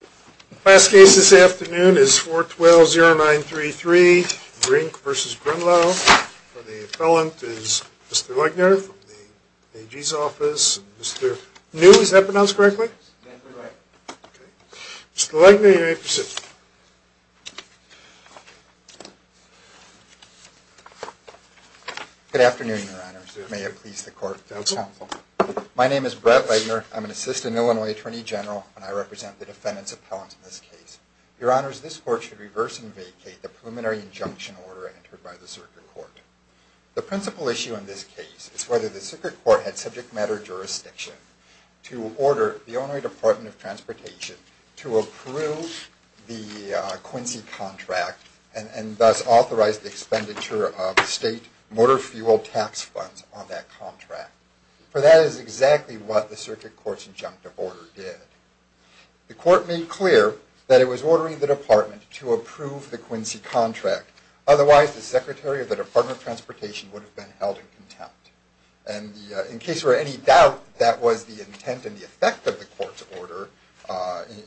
The last case this afternoon is 412-0933, Brink v. Grunloh. For the appellant is Mr. Legner from the AG's office. Mr. New, is that pronounced correctly? Mr. Legner, you may proceed. Good afternoon, Your Honors. May it please the Court. My name is Brett Legner. I'm an Assistant Illinois Attorney General, and I represent the defendant's appellant in this case. Your Honors, this Court should reverse and vacate the preliminary injunction order entered by the Circuit Court. The principal issue in this case is whether the Circuit Court had subject matter jurisdiction to order the Illinois Department of Transportation to approve the Quincy contract and thus authorize the expenditure of state motor fuel tax funds on that contract. For that is exactly what the Circuit Court's injunctive order did. The Court made clear that it was ordering the Department to approve the Quincy contract. Otherwise, the Secretary of the Department of Transportation would have been held in contempt. And in case there were any doubt that was the intent and the effect of the Court's order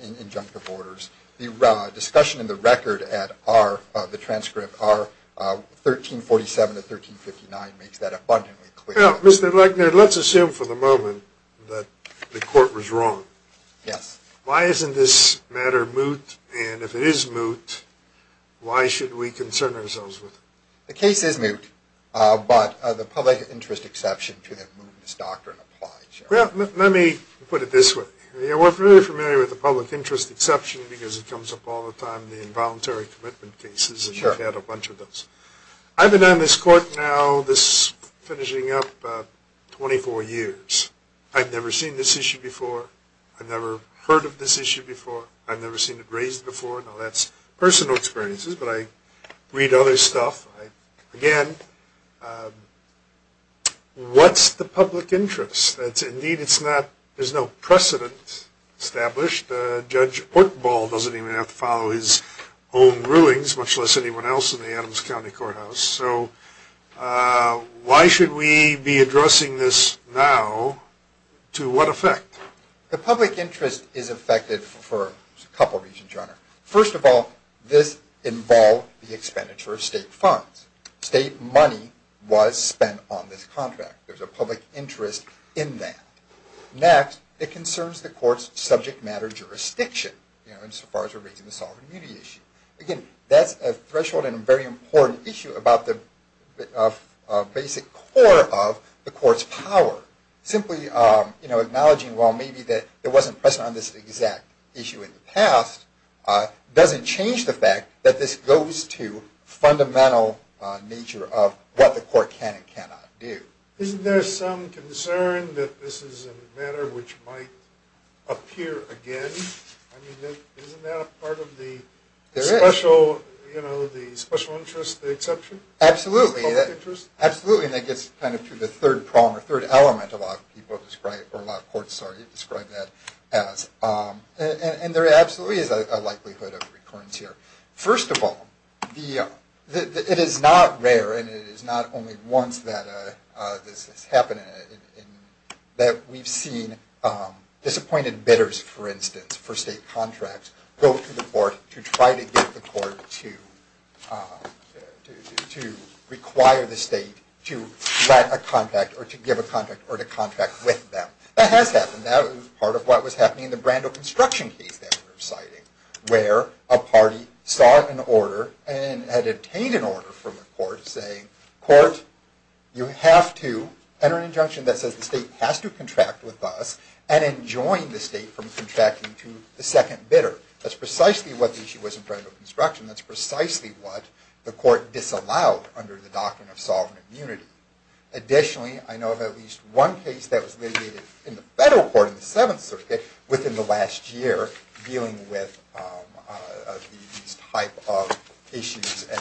in injunctive orders, the discussion in the record at the transcript, R. 1347-1359, makes that abundantly clear. Well, Mr. Legner, let's assume for the moment that the Court was wrong. Yes. Why isn't this matter moot? And if it is moot, why should we concern ourselves with it? The case is moot, but the public interest exception to that mootness doctrine applies. Well, let me put it this way. We're very familiar with the public interest exception because it comes up all the time in the involuntary commitment cases, and we've had a bunch of those. I've been on this Court now finishing up 24 years. I've never seen this issue before. I've never heard of this issue before. I've never seen it raised before. Now, that's personal experiences, but I read other stuff. Again, what's the public interest? Indeed, there's no precedent established. Judge Ortenbaugh doesn't even have to follow his own rulings, much less anyone else in the Adams County Courthouse. So why should we be addressing this now? To what effect? The public interest is affected for a couple reasons, Your Honor. First of all, this involved the expenditure of state funds. State money was spent on this contract. There's a public interest in that. Next, it concerns the Court's subject matter jurisdiction, insofar as we're raising the sovereign immunity issue. Again, that's a threshold and a very important issue about the basic core of the Court's power. Simply acknowledging while maybe there wasn't precedent on this exact issue in the past doesn't change the fact that this goes to fundamental nature of what the Court can and cannot do. Isn't there some concern that this is a matter which might appear again? I mean, isn't that a part of the special interest exception? Absolutely. The public interest? Absolutely, and that gets kind of to the third prong or third element a lot of people describe, or a lot of courts, sorry, describe that as. And there absolutely is a likelihood of recurrence here. First of all, it is not rare, and it is not only once that this has happened, that we've seen disappointed bidders, for instance, for state contracts, go to the Court to try to get the Court to require the state to grant a contract or to give a contract or to contract with them. That has happened. That was part of what was happening in the Brando construction case that we're citing, where a party saw an order and had obtained an order from the Court saying, Court, you have to enter an injunction that says the state has to contract with us and enjoin the state from contracting to the second bidder. That's precisely what the issue was in Brando construction. That's precisely what the Court disallowed under the doctrine of sovereign immunity. Additionally, I know of at least one case that was litigated in the federal court, in the Seventh Circuit, within the last year, dealing with these type of issues and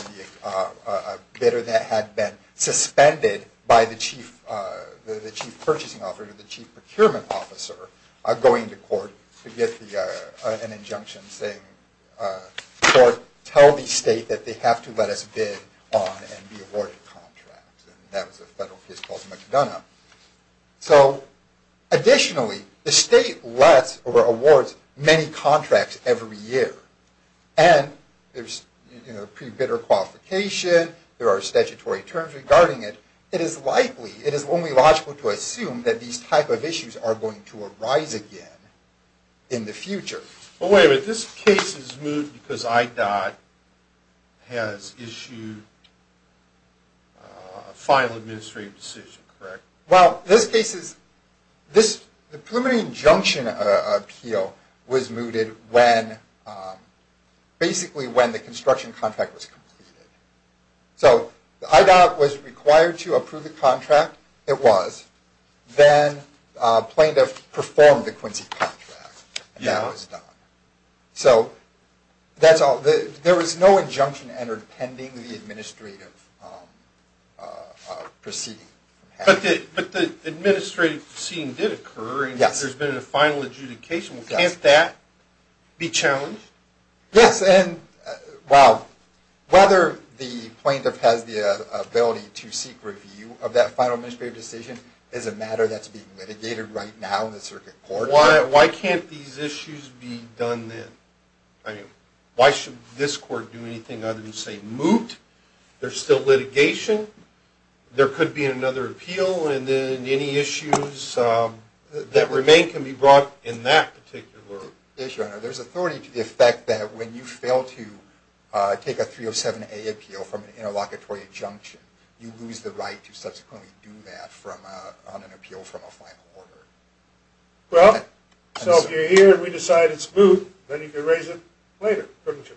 a bidder that had been suspended by the Chief Purchasing Officer or the Chief Procurement Officer going to court to get an injunction saying, Court, tell the state that they have to let us bid on and be awarded contracts. That was a federal case called McDonough. Additionally, the state lets or awards many contracts every year. There's pre-bidder qualification. There are statutory terms regarding it. It is likely, it is only logical to assume that these type of issues are going to arise again in the future. Well, wait a minute. This case is moot because IDOT has issued a final administrative decision, correct? Well, this case is, this preliminary injunction appeal was mooted when, basically when the construction contract was completed. So IDOT was required to approve the contract. It was. Then plaintiff performed the Quincy contract. Yeah. And that was done. So that's all. There was no injunction entered pending the administrative proceeding. But the administrative proceeding did occur. Yes. And there's been a final adjudication. Yes. Can't that be challenged? Yes. And, well, whether the plaintiff has the ability to seek review of that final administrative decision is a matter that's being litigated right now in the circuit court. Why can't these issues be done then? I mean, why should this court do anything other than say moot? There's still litigation. There could be another appeal. And then any issues that remain can be brought in that particular issue. There's authority to the effect that when you fail to take a 307A appeal from an interlocutory injunction, you lose the right to subsequently do that on an appeal from a final order. Well, so if you're here and we decide it's moot, then you can raise it later, couldn't you?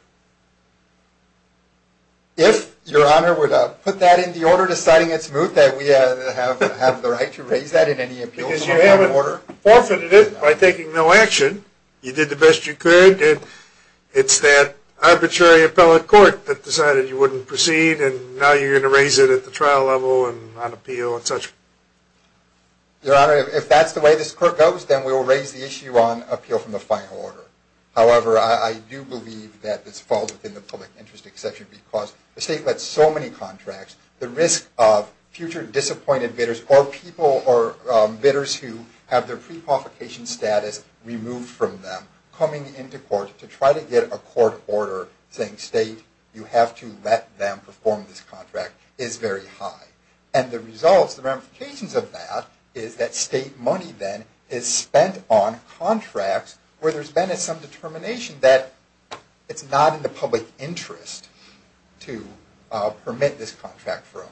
If, Your Honor, we're to put that in the order deciding it's moot, that we have the right to raise that in any appeals on that order. Because you haven't forfeited it by taking no action. You did the best you could. It's that arbitrary appellate court that decided you wouldn't proceed, and now you're going to raise it at the trial level and on appeal and such. Your Honor, if that's the way this court goes, then we will raise the issue on appeal from the final order. However, I do believe that this falls within the public interest exception because the state lets so many contracts, the risk of future disappointed bidders or bidders who have their pre-provocation status removed from them coming into court to try to get a court order saying, State, you have to let them perform this contract is very high. And the results, the ramifications of that is that state money then is spent on contracts where there's been some determination that it's not in the public interest to permit this contract from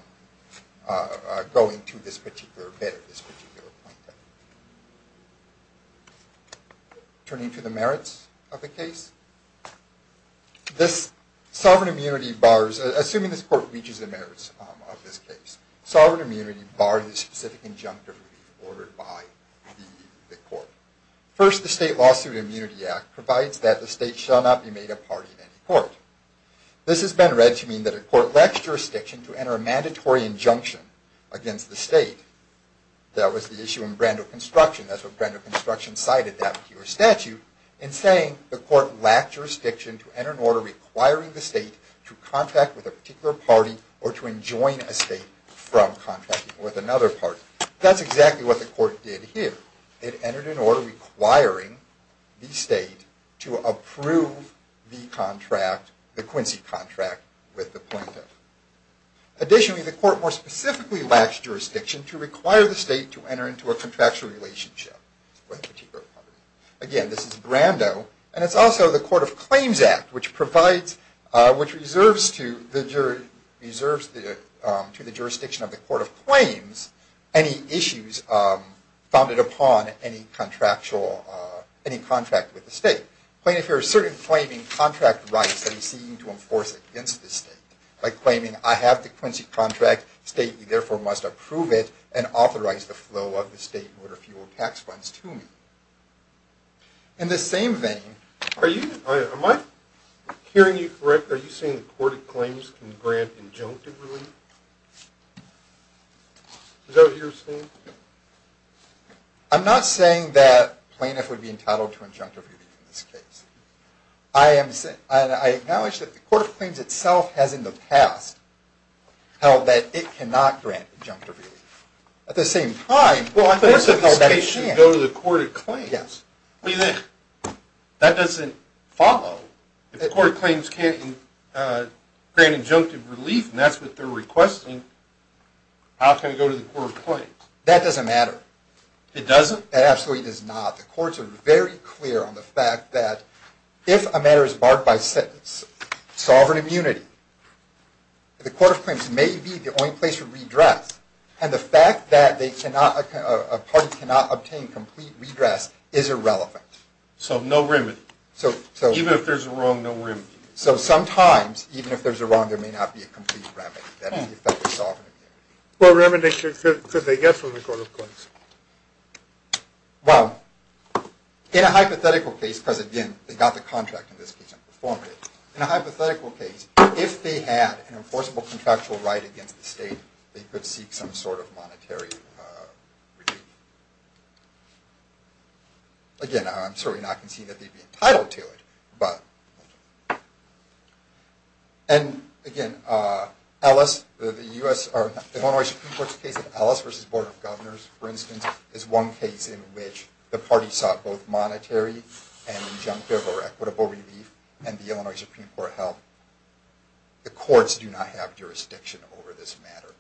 going to this particular bid at this particular point. Turning to the merits of the case. Assuming this court reaches the merits of this case, sovereign immunity bars the specific injunctive relief ordered by the court. First, the State Lawsuit Immunity Act provides that the state shall not be made a party in any court. This has been read to mean that a court lacks jurisdiction to enter a mandatory injunction against the state. That was the issue in Brando Construction. That's what Brando Construction cited down to your statute in saying the court lacked jurisdiction to enter an order requiring the state to contract with a particular party or to enjoin a state from contracting with another party. That's exactly what the court did here. It entered an order requiring the state to approve the contract, the Quincy contract, with the plaintiff. Additionally, the court more specifically lacks jurisdiction to require the state to enter into a contractual relationship with a particular party. Again, this is Brando, and it's also the Court of Claims Act, which reserves to the jurisdiction of the Court of Claims any issues founded upon any contract with the state. Plaintiff here is certainly claiming contract rights that he's seeking to enforce against the state by claiming, I have the Quincy contract, the state, therefore, must approve it and authorize the flow of the state motor fuel tax funds to me. In the same vein... Am I hearing you correct? Are you saying the Court of Claims can grant injunctive relief? Is that what you're saying? I'm not saying that plaintiff would be entitled to injunctive relief in this case. I acknowledge that the Court of Claims itself has in the past held that it cannot grant injunctive relief. At the same time... Well, I think that this case should go to the Court of Claims. That doesn't follow. If the Court of Claims can't grant injunctive relief, and that's what they're requesting, how can it go to the Court of Claims? That doesn't matter. It doesn't? It absolutely does not. The Courts are very clear on the fact that if a matter is barred by sentence, sovereign immunity, the Court of Claims may be the only place for redress, and the fact that a party cannot obtain complete redress is irrelevant. So no remedy. Even if there's a wrong, no remedy. So sometimes, even if there's a wrong, there may not be a complete remedy that would effect the sovereign immunity. What remedy could they get from the Court of Claims? Well, in a hypothetical case, because, again, they got the contract in this case and performed it. In a hypothetical case, if they had an enforceable contractual right against the state, they could seek some sort of monetary remedy. Again, I'm certainly not conceding that they'd be entitled to it, but... And, again, the Illinois Supreme Court's case of Ellis v. Board of Governors, for instance, is one case in which the party sought both monetary and injunctive or equitable relief, and the Illinois Supreme Court held the courts do not have jurisdiction over this matter.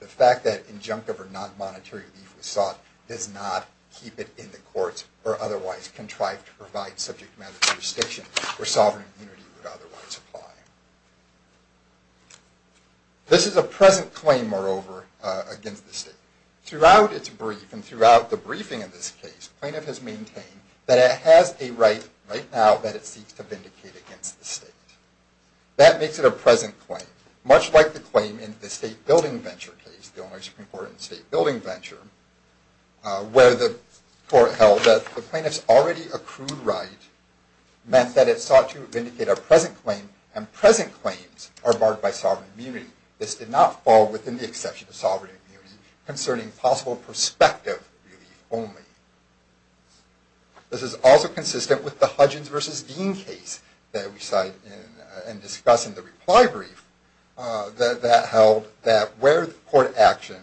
The fact that injunctive or non-monetary relief was sought does not keep it in the courts or otherwise contrive to provide subject matter jurisdiction where sovereign immunity would otherwise apply. This is a present claim, moreover, against the state. Throughout its brief, and throughout the briefing in this case, plaintiff has maintained that it has a right right now that it seeks to vindicate against the state. That makes it a present claim, much like the claim in the State Building Venture case, the Illinois Supreme Court in the State Building Venture, where the court held that the plaintiff's already accrued right meant that it sought to vindicate a present claim, and present claims are barred by sovereign immunity. This did not fall within the exception of sovereign immunity concerning possible prospective relief only. This is also consistent with the Hudgens v. Dean case that we cite and discuss in the reply brief that held that where court action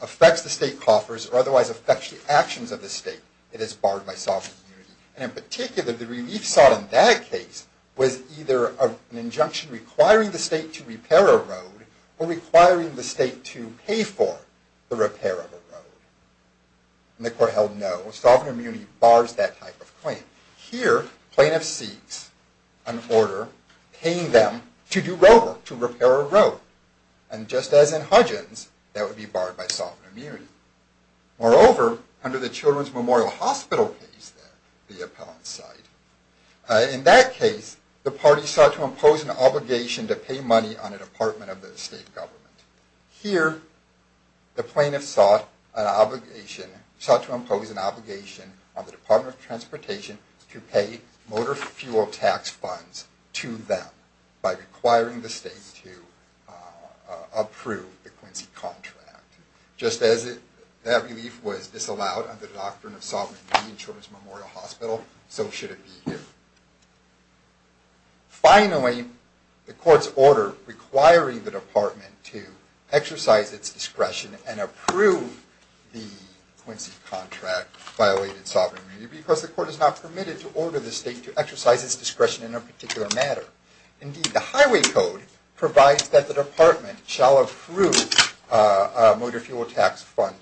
affects the state coffers or otherwise affects the actions of the state, it is barred by sovereign immunity. And in particular, the relief sought in that case was either an injunction requiring the state to repair a road or requiring the state to pay for the repair of a road. And the court held no, sovereign immunity bars that type of claim. Here, plaintiff seeks an order paying them to do road work, to repair a road. And just as in Hudgens, that would be barred by sovereign immunity. Moreover, under the Children's Memorial Hospital case there, the appellant's side, in that case, the party sought to impose an obligation to pay money on a department of the state government. Here, the plaintiff sought an obligation, sought to impose an obligation on the Department of Transportation to pay motor fuel tax funds to them by requiring the state to approve the Quincy contract. Just as that relief was disallowed under the doctrine of sovereign immunity in Children's Memorial Hospital, so should it be here. Finally, the court's order requiring the department to exercise its discretion and approve the Quincy contract violated sovereign immunity because the court is not permitted to order the state to exercise its discretion in a particular matter. Indeed, the highway code provides that the department shall approve a motor fuel tax fund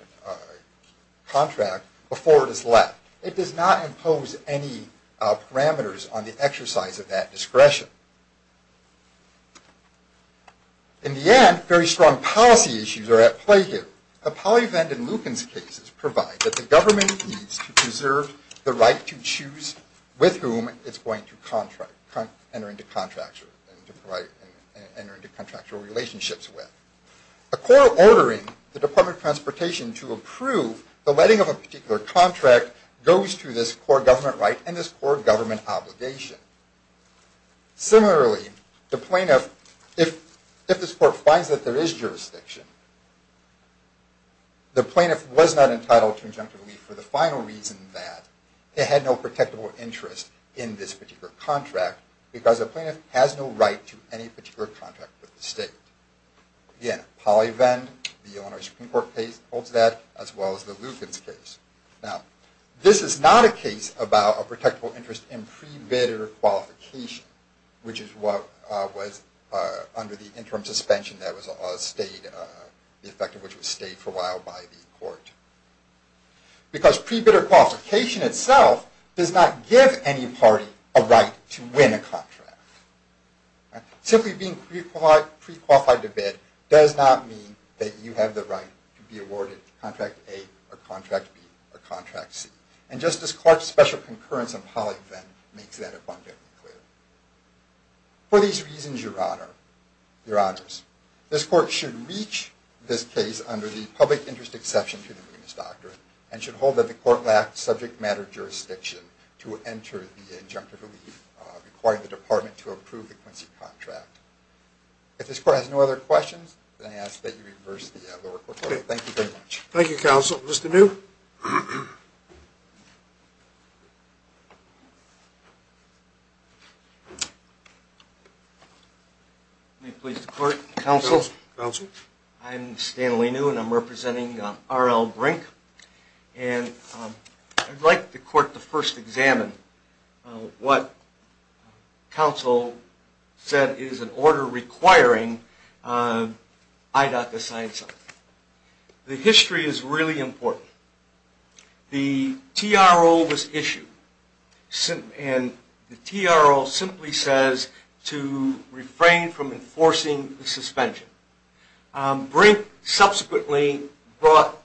contract before it is let. It does not impose any parameters on the exercise of that discretion. In the end, very strong policy issues are at play here. The PolyVent and Lukens cases provide that the government needs to preserve the right to choose with whom it's going to enter into contractual relationships with. A court ordering the Department of Transportation to approve the letting of a particular contract goes to this core government right and this core government obligation. Similarly, if this court finds that there is jurisdiction, the plaintiff was not entitled to injunctive leave for the final reason that it had no protectable interest in this particular contract because a plaintiff has no right to any particular contract with the state. Again, PolyVent, the Illinois Supreme Court holds that as well as the Lukens case. This is not a case about a protectable interest in pre-bidder qualification, which is what was under the interim suspension that was stayed for a while by the court. Because pre-bidder qualification itself does not give any party a right to win a contract. Simply being pre-qualified to bid does not mean that you have the right to be awarded contract A or contract B or contract C. And Justice Clark's special concurrence on PolyVent makes that abundantly clear. For these reasons, Your Honors, this court should reach this case under the public interest exception to the Lukens Doctrine and should hold that the court lacked subject matter jurisdiction to enter the injunctive leave requiring the department to approve the Quincy contract. If this court has no other questions, then I ask that you reverse the record. Thank you very much. Thank you, Counsel. Mr. New? May it please the court. Counsel? I'm Stanley New and I'm representing R.L. Brink. And I'd like the court to first examine what Counsel said is an order requiring IDOT to sign something. The history is really important. The TRO was issued and the TRO simply says to refrain from enforcing the suspension. Brink subsequently brought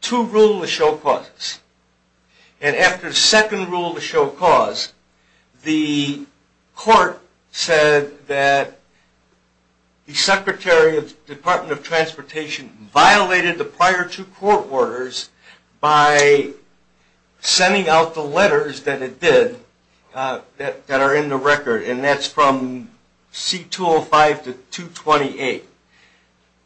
two rules to show cause. And after the second rule to show cause, the court said that the Secretary of the Department of Transportation violated the prior two court orders by sending out the letters that it did that are in the record. And that's from C-205 to 228.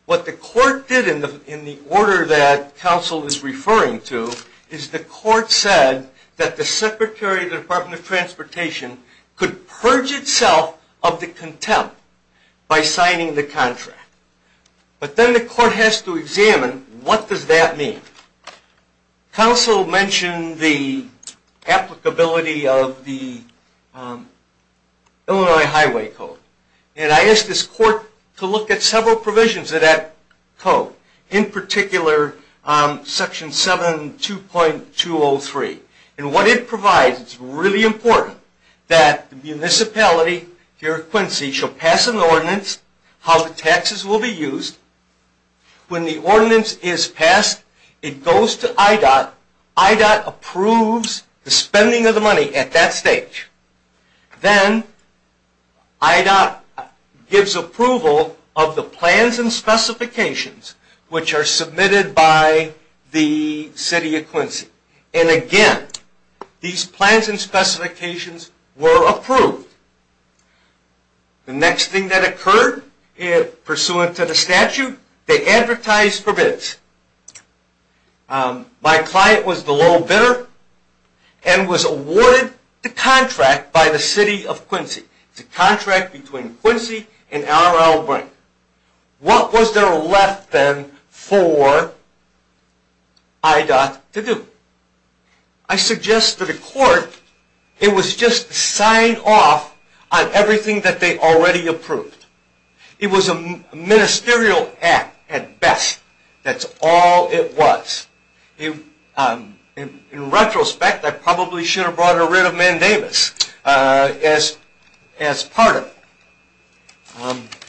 What the court did in the order that Counsel is referring to is the court said that the Secretary of the Department of Transportation could purge itself of the contempt by signing the contract. But then the court has to examine what does that mean. Counsel mentioned the applicability of the Illinois Highway Code. And I asked this court to look at several provisions of that code. In particular, Section 72.203. And what it provides, it's really important, that the municipality, here at Quincy, shall pass an ordinance how the taxes will be used. When the ordinance is passed, it goes to IDOT. IDOT approves the spending of the money at that stage. Then IDOT gives approval of the plans and specifications which are submitted by the City of Quincy. And again, these plans and specifications were approved. The next thing that occurred, pursuant to the statute, they advertised for bids. My client was the low bidder and was awarded the contract by the City of Quincy. It's a contract between Quincy and R.L. Brink. What was there left then for IDOT to do? I suggest to the court it was just sign off on everything that they already approved. It was a ministerial act at best. That's all it was. In retrospect, I probably should have brought a writ of mandamus as part of it.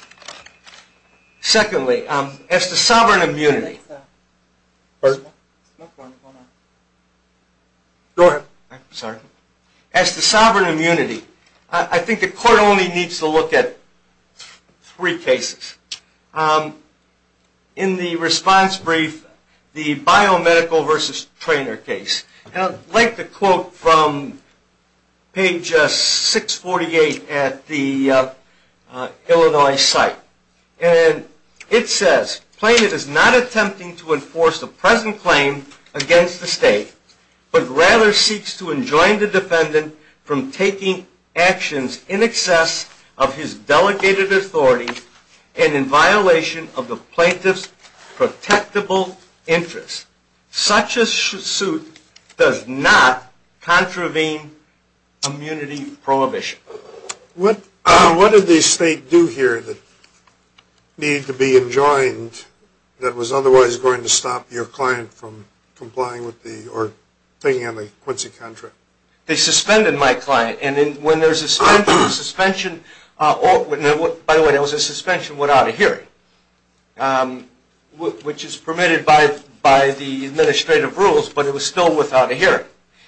Secondly, as to sovereign immunity, I think the court only needs to look at three cases. In the response brief, the biomedical versus trainer case. I'd like to quote from page 648 at the Illinois site. It says, Plaintiff is not attempting to enforce the present claim against the state, but rather seeks to enjoin the defendant from taking actions in excess of his delegated authority and in violation of the plaintiff's protectable interests. Such a suit does not contravene immunity prohibition. What did the state do here that needed to be enjoined that was otherwise going to stop your client from thinking on the Quincy contract? They suspended my client. By the way, there was a suspension without a hearing, which is permitted by the administrative rules, but it was still without a hearing.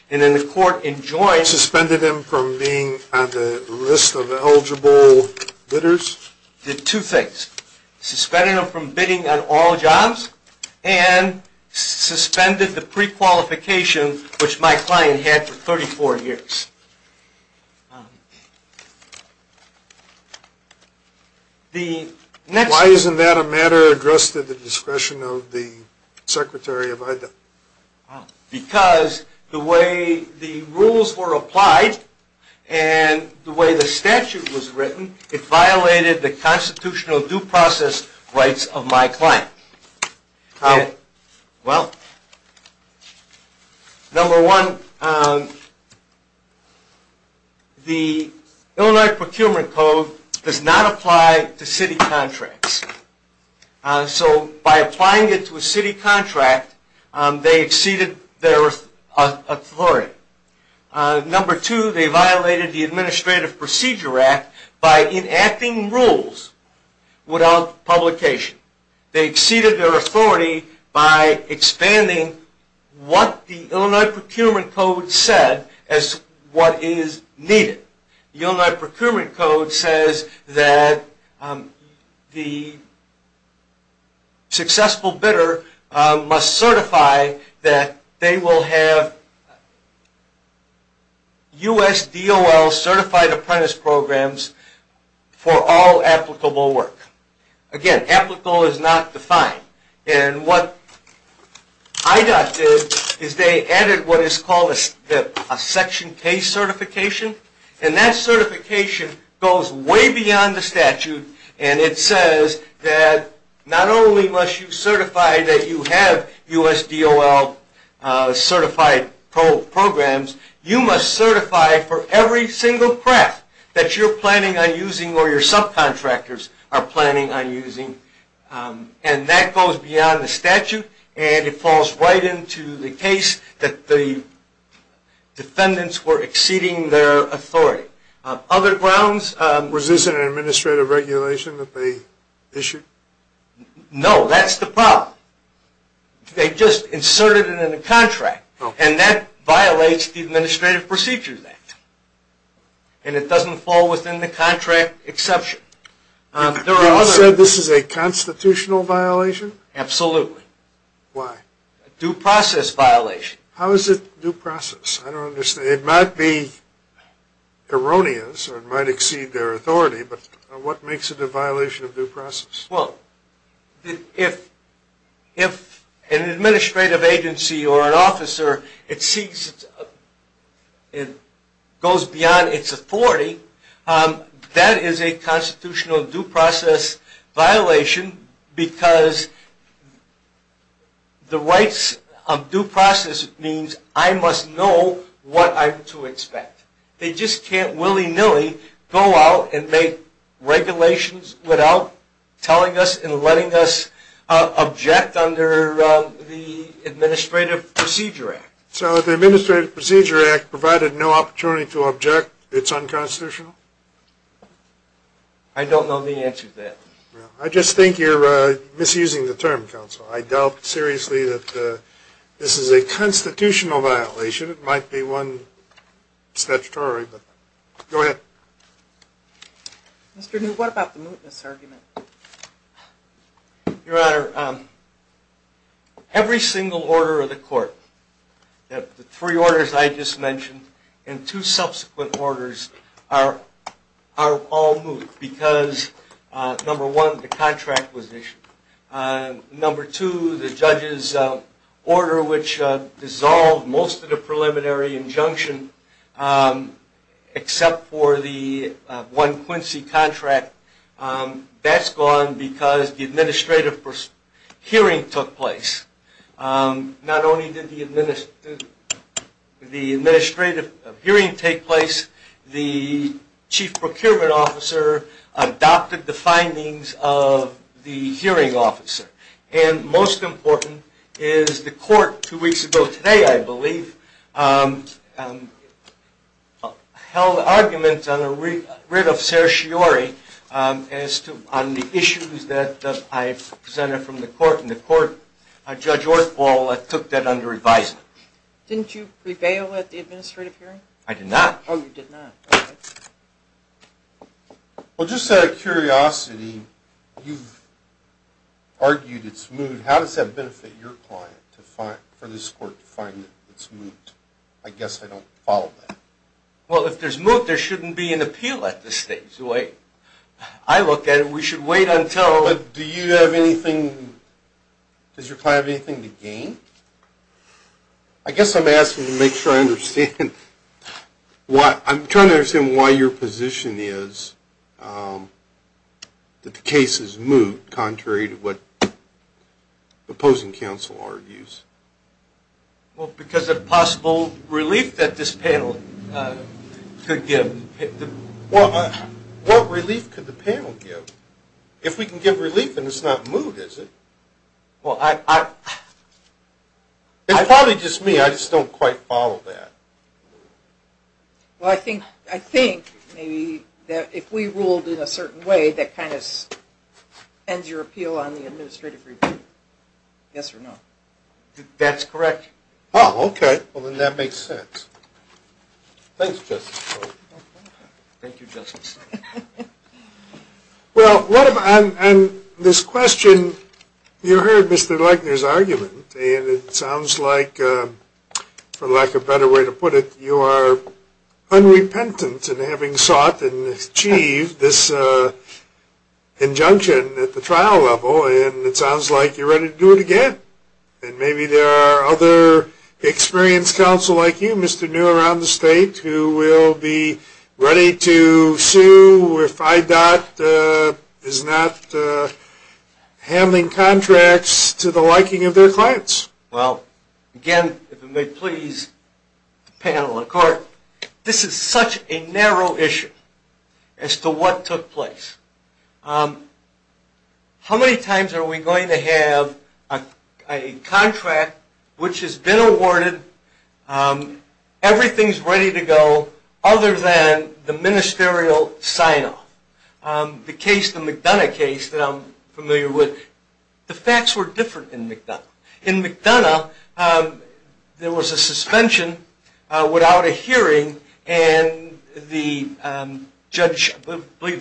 Suspended him from being on the list of eligible bidders? Did two things. Suspended him from bidding on all jobs, and suspended the prequalification, which my client had for 34 years. Why isn't that a matter addressed at the discretion of the Secretary of Education? Because the way the rules were applied and the way the statute was written, it violated the constitutional due process rights of my client. Number one, the Illinois Procurement Code does not apply to city contracts. So by applying it to a city contract, they exceeded their authority. Number two, they violated the Administrative Procedure Act by enacting rules without publication. They exceeded their authority by expanding what the Illinois Procurement Code said as what is needed. The Illinois Procurement Code says that the successful bidder must certify that they will have USDOL certified apprentice programs for all applicable work. Again, applicable is not defined. And what IDOT did is they added what is called a Section K certification. And that certification goes way beyond the statute. And it says that not only must you certify that you have USDOL certified programs, you must certify for every single craft that you're planning on using or your subcontractors are planning on using. And that goes beyond the statute. And it falls right into the case that the defendants were exceeding their authority. Other grounds... Was this an administrative regulation that they issued? No, that's the problem. They just inserted it in the contract. And that violates the Administrative Procedure Act. And it doesn't fall within the contract exception. You said this is a constitutional violation? Absolutely. Why? A due process violation. How is it due process? I don't understand. It might be erroneous or it might exceed their authority, but what makes it a violation of due process? Well, if an administrative agency or an officer goes beyond its authority, that is a constitutional due process violation because the rights of due process means I must know what I'm to expect. They just can't willy-nilly go out and make regulations without telling us and letting us object under the Administrative Procedure Act. So the Administrative Procedure Act provided no opportunity to object. It's unconstitutional? I don't know the answer to that. I just think you're misusing the term, counsel. I doubt seriously that this is a constitutional violation. It might be one statutory. Go ahead. Mr. New, what about the mootness argument? Your Honor, every single order of the court, the three orders I just mentioned and two subsequent orders are all moot because, number one, the contract was issued. Number two, the judge's order which dissolved most of the preliminary injunction except for the one Quincy contract, that's gone because the administrative hearing took place. Not only did the administrative hearing take place, the Chief Procurement Officer adopted the findings of the hearing officer. And most important is the court two weeks ago today, I believe, held arguments on the writ of certiorari on the issues that I presented from the court. And the court, Judge Orthball, took that under advisement. Didn't you prevail at the administrative hearing? I did not. Oh, you did not. Okay. Well, just out of curiosity, you've argued it's moot. How does that benefit your client for this court to find that it's moot? I guess I don't follow that. Well, if there's moot, there shouldn't be an appeal at this stage. The way I look at it, we should wait until – But do you have anything – does your client have anything to gain? I guess I'm asking to make sure I understand. I'm trying to understand why your position is that the case is moot, contrary to what opposing counsel argues. Well, because of possible relief that this panel could give. Well, what relief could the panel give? If we can give relief and it's not moot, is it? Well, I – It's probably just me. I just don't quite follow that. Well, I think maybe that if we ruled in a certain way, that kind of ends your appeal on the administrative review. Yes or no? That's correct. Oh, okay. Well, then that makes sense. Thanks, Justice. Thank you, Justice. Well, on this question, you heard Mr. Legner's argument, and it sounds like, for lack of a better way to put it, you are unrepentant in having sought and achieved this injunction at the trial level, and it sounds like you're ready to do it again. And maybe there are other experienced counsel like you, Mr. New, around the state who will be ready to sue if IDOT is not handling contracts to the liking of their clients. Well, again, if it may please the panel and the court, this is such a narrow issue as to what took place. How many times are we going to have a contract which has been awarded, everything's ready to go, other than the ministerial sign-off? The case, the McDonough case that I'm familiar with, the facts were different in McDonough. In McDonough, there was a suspension without a hearing, and I believe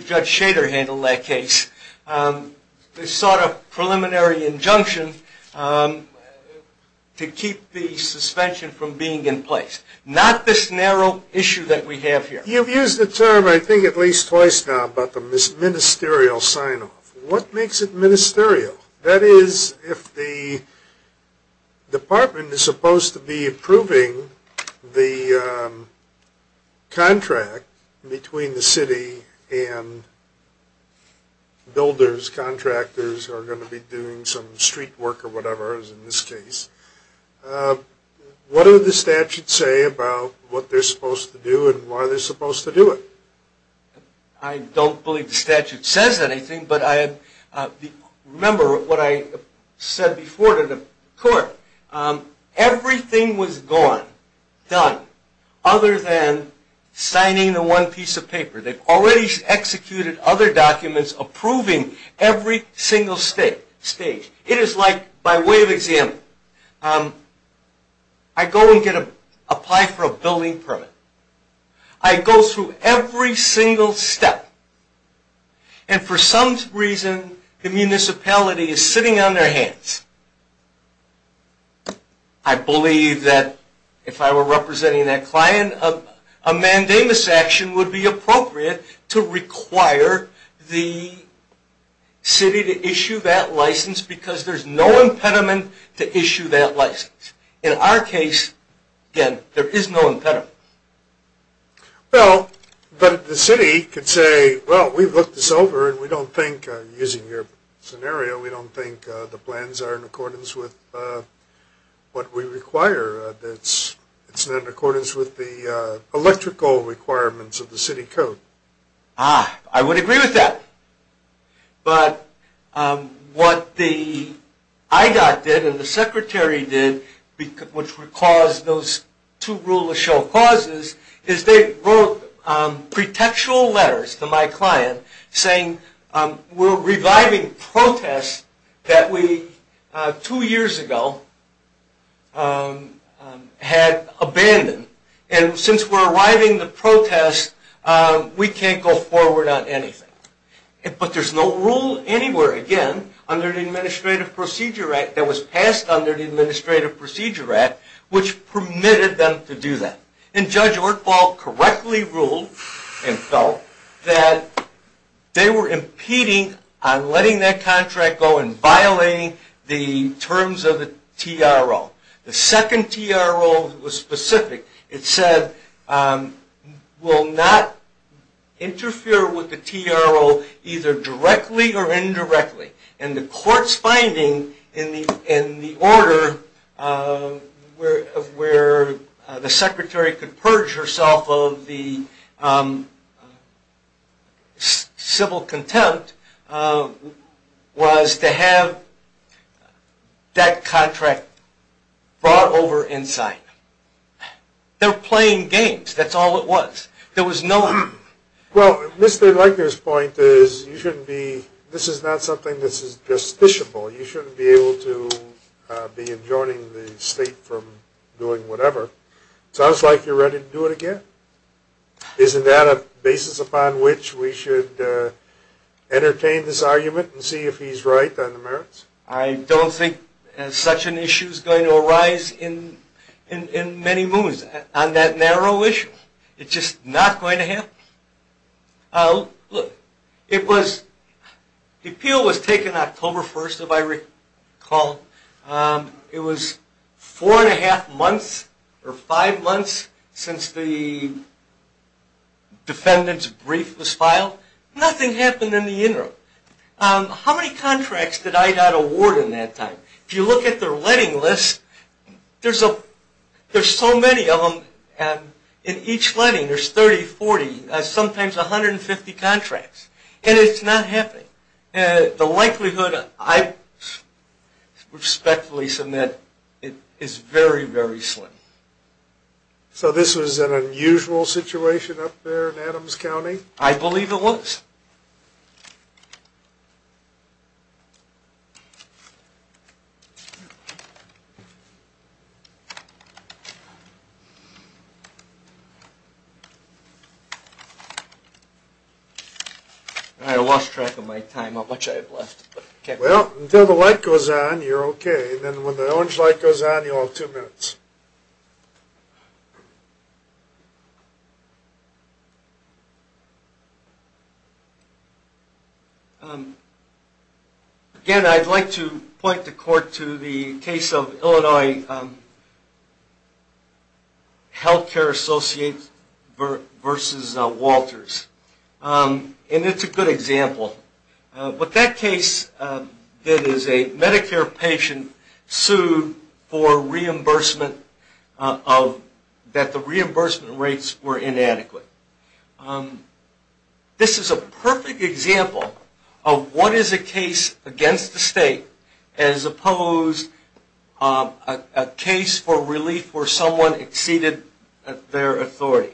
Judge Shader handled that case. They sought a preliminary injunction to keep the suspension from being in place. Not this narrow issue that we have here. You've used the term I think at least twice now about the ministerial sign-off. What makes it ministerial? That is, if the department is supposed to be approving the contract between the city and builders, contractors who are going to be doing some street work or whatever, as in this case, what do the statutes say about what they're supposed to do and why they're supposed to do it? I don't believe the statute says anything, but remember what I said before to the court. Everything was gone, done, other than signing the one piece of paper. They've already executed other documents approving every single stage. It is like, by way of example, I go and apply for a building permit. I go through every single step, and for some reason the municipality is sitting on their hands. I believe that if I were representing that client, a mandamus action would be appropriate to require the city to issue that license because there's no impediment to issue that license. In our case, again, there is no impediment. Well, but the city could say, well, we've looked this over, and we don't think, using your scenario, we don't think the plans are in accordance with what we require. It's not in accordance with the electrical requirements of the city code. Ah, I would agree with that. But what the IDOT did and the secretary did, which would cause those two rule of show causes, is they wrote pretextual letters to my client saying, we're reviving protests that we, two years ago, had abandoned. And since we're reviving the protests, we can't go forward on anything. But there's no rule anywhere, again, under the Administrative Procedure Act that was passed under the Administrative Procedure Act which permitted them to do that. And Judge Ortbal correctly ruled and felt that they were impeding on letting that contract go and violating the terms of the TRO. The second TRO was specific. It said, we'll not interfere with the TRO either directly or indirectly. And the court's finding in the order where the secretary could purge herself of the civil contempt was to have that contract brought over inside. They're playing games, that's all it was. There was no... Well, Mr. Legner's point is, you shouldn't be, this is not something that's justiciable. You shouldn't be able to be enjoining the state from doing whatever. Sounds like you're ready to do it again. Isn't that a basis upon which we should entertain this argument and see if he's right on the merits? I don't think such an issue is going to arise in many moons. On that narrow issue, it's just not going to happen. Look, the appeal was taken October 1st, if I recall. It was four and a half months or five months since the defendant's brief was filed. Nothing happened in the interim. How many contracts did I got awarded in that time? If you look at their letting list, there's so many of them. In each letting, there's 30, 40, sometimes 150 contracts. And it's not happening. The likelihood, I respectfully submit, is very, very slim. So this was an unusual situation up there in Adams County? I believe it was. I lost track of my time, how much I have left. Well, until the light goes on, you're okay. And then when the orange light goes on, you'll have two minutes. Again, I'd like to point the court to the case of Illinois Healthcare Associates versus Walters. And it's a good example. What that case did is a Medicare patient sued that the reimbursement rates were inadequate. This is a perfect example of what is a case against the state as opposed to a case for relief where someone exceeded their authority.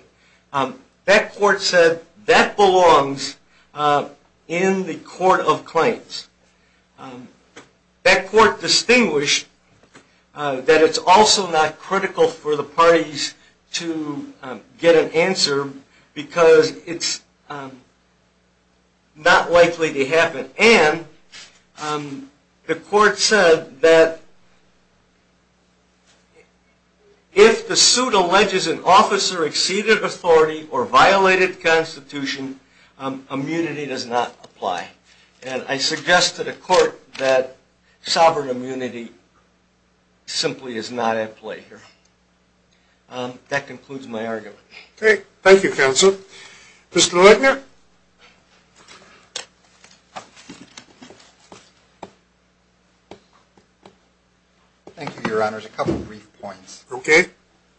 That court said that belongs in the court of claims. That court distinguished that it's also not critical for the parties to get an answer because it's not likely to happen. And the court said that if the suit alleges an officer exceeded authority or violated constitution, immunity does not apply. And I suggest to the court that sovereign immunity simply is not at play here. That concludes my argument. Okay. Thank you, counsel. Mr. Leitner? Thank you, Your Honors. A couple of brief points. Okay.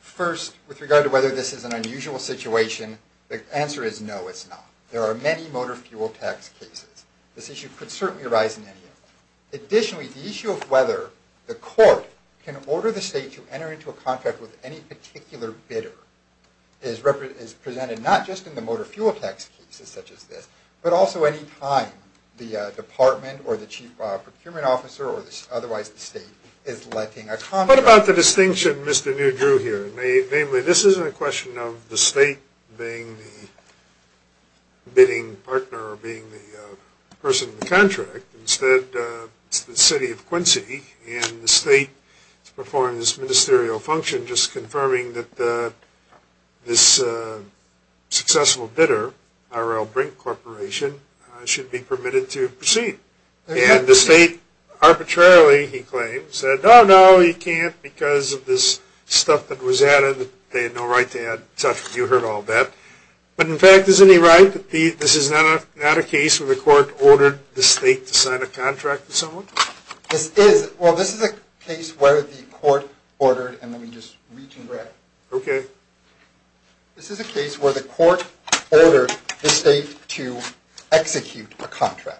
First, with regard to whether this is an unusual situation, the answer is no, it's not. There are many motor fuel tax cases. This issue could certainly arise in any of them. Additionally, the issue of whether the court can order the state to enter into a contract with any particular bidder is presented not just in the motor fuel tax cases such as this, but also any time the department or the chief procurement officer or otherwise the state is letting a contractor What about the distinction Mr. Newdrew here made? Namely, this isn't a question of the state being the bidding partner or being the person in the contract. Instead, it's the city of Quincy and the state is performing this ministerial function just confirming that this successful bidder, R.L. Brink Corporation, should be permitted to proceed. And the state arbitrarily, he claims, said no, no, you can't because of this stuff that was added. They had no right to add stuff. You heard all that. But in fact, isn't he right that this is not a case where the court ordered the state to sign a contract with someone? This is a case where the court ordered the state to execute a contract.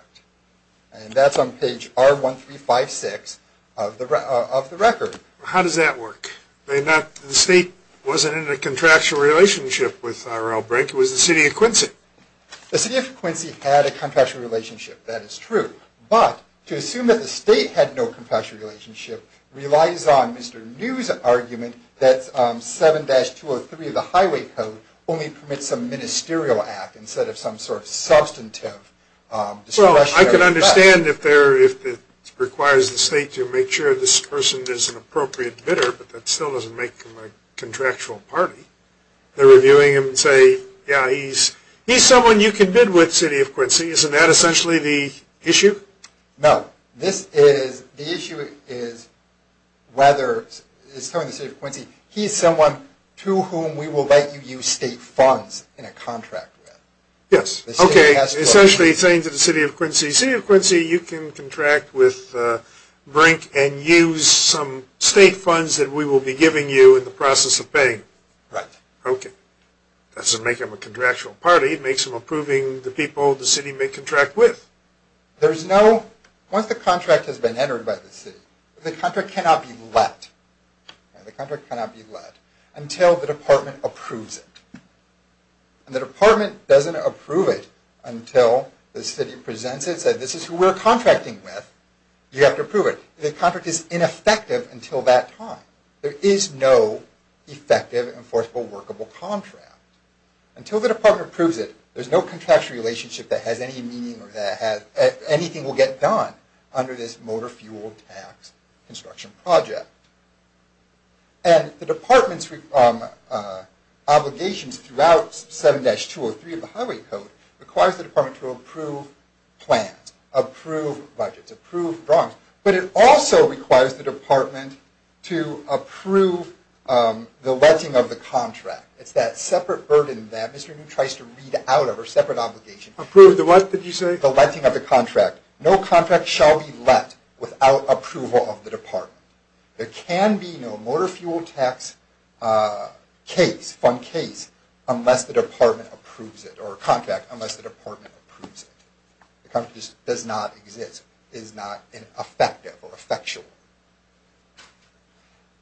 And that's on page R1356 of the record. How does that work? The state wasn't in a contractual relationship with R.L. Brink. It was the city of Quincy. The city of Quincy had a contractual relationship. That is true. But to assume that the state had no contractual relationship relies on Mr. New's argument that 7-203 of the highway code only permits a ministerial act instead of some sort of substantive discretionary action. I can understand if it requires the state to make sure this person is an appropriate bidder. But that still doesn't make him a contractual party. They're reviewing him and say, yeah, he's someone you can bid with, city of Quincy. Isn't that essentially the issue? No. The issue is whether, he's someone to whom we will let you use state funds in a contract with. Yes. Okay, essentially saying to the city of Quincy, city of Quincy, you can contract with Brink and use some state funds that we will be giving you in the process of paying. Right. Okay. That doesn't make him a contractual party. It makes him approving the people the city may contract with. There's no, once the contract has been entered by the city, the contract cannot be let. The contract cannot be let until the department approves it. And the department doesn't approve it until the city presents it and says, this is who we're contracting with. You have to approve it. The contract is ineffective until that time. There is no effective, enforceable, workable contract. Until the department approves it, there's no contractual relationship that has any meaning or that anything will get done under this motor fuel tax construction project. And the department's obligations throughout 7-203 of the Highway Code requires the department to approve plans, approve budgets, approve drawings. But it also requires the department to approve the letting of the contract. It's that separate burden that Mr. New tries to read out of, or separate obligation. Approve the what, did you say? The letting of the contract. No contract shall be let without approval of the department. There can be no motor fuel tax case, fund case, unless the department approves it, or contract unless the department approves it. The contract does not exist, is not effective or effectual.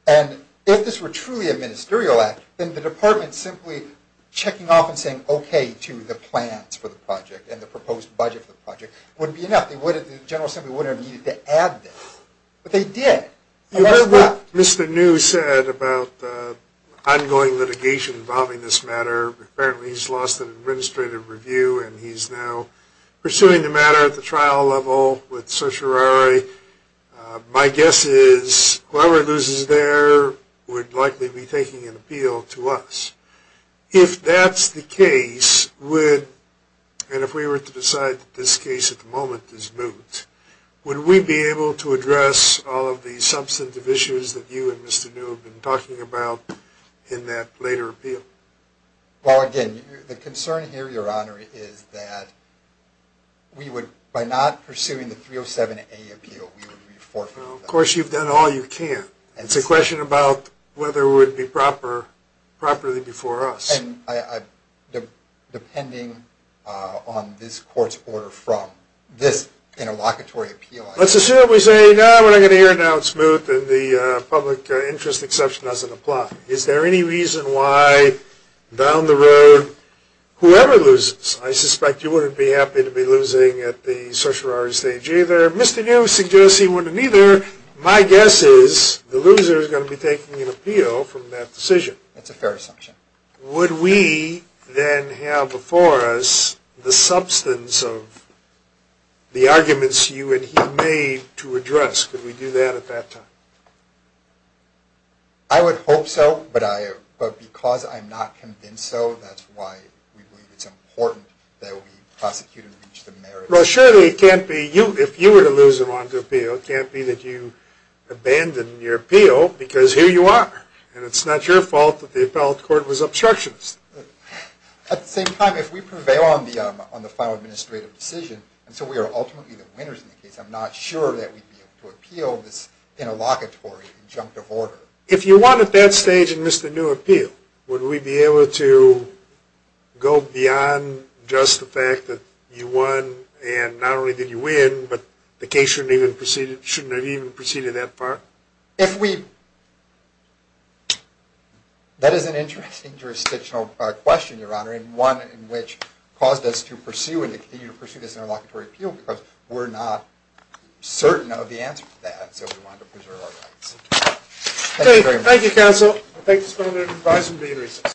And if this were truly a ministerial act, then the department simply checking off and saying okay to the plans for the project and the proposed budget for the project wouldn't be enough. The General Assembly wouldn't have needed to add this. But they did. You heard what Mr. New said about ongoing litigation involving this matter. Apparently he's lost an administrative review and he's now pursuing the matter at the trial level with certiorari. My guess is whoever loses there would likely be taking an appeal to us. If that's the case, and if we were to decide that this case at the moment is moot, would we be able to address all of the substantive issues that you and Mr. New have been talking about in that later appeal? Well, again, the concern here, Your Honor, is that by not pursuing the 307A appeal, we would be forfeiting that. Of course, you've done all you can. It's a question about whether it would be properly before us. And depending on this court's order from this interlocutory appeal, let's assume we say, no, we're going to hear it now, it's moot, and the public interest exception doesn't apply. Is there any reason why down the road whoever loses, I suspect you wouldn't be happy to be losing at the certiorari stage either. Mr. New suggests he wouldn't either. My guess is the loser is going to be taking an appeal from that decision. That's a fair assumption. Would we then have before us the substance of the arguments you and he made to address? Could we do that at that time? I would hope so, but because I'm not convinced so, that's why we believe it's important that we prosecute and reach the merits. Well, surely it can't be, if you were to lose and want to appeal, it can't be that you abandon your appeal because here you are, and it's not your fault that the appellate court was obstructionist. At the same time, if we prevail on the final administrative decision, and so we are ultimately the winners in the case, I'm not sure that we'd be able to appeal this interlocutory injunctive order. If you won at that stage and missed a new appeal, would we be able to go beyond just the fact that you won and not only did you win, but the case shouldn't have even proceeded that far? That is an interesting jurisdictional question, Your Honor, and one in which caused us to pursue and continue to pursue this interlocutory appeal because we're not certain of the answer to that, so we want to preserve our rights. Thank you very much. Thank you, counsel. Thank you, Mr. President. Good-bye.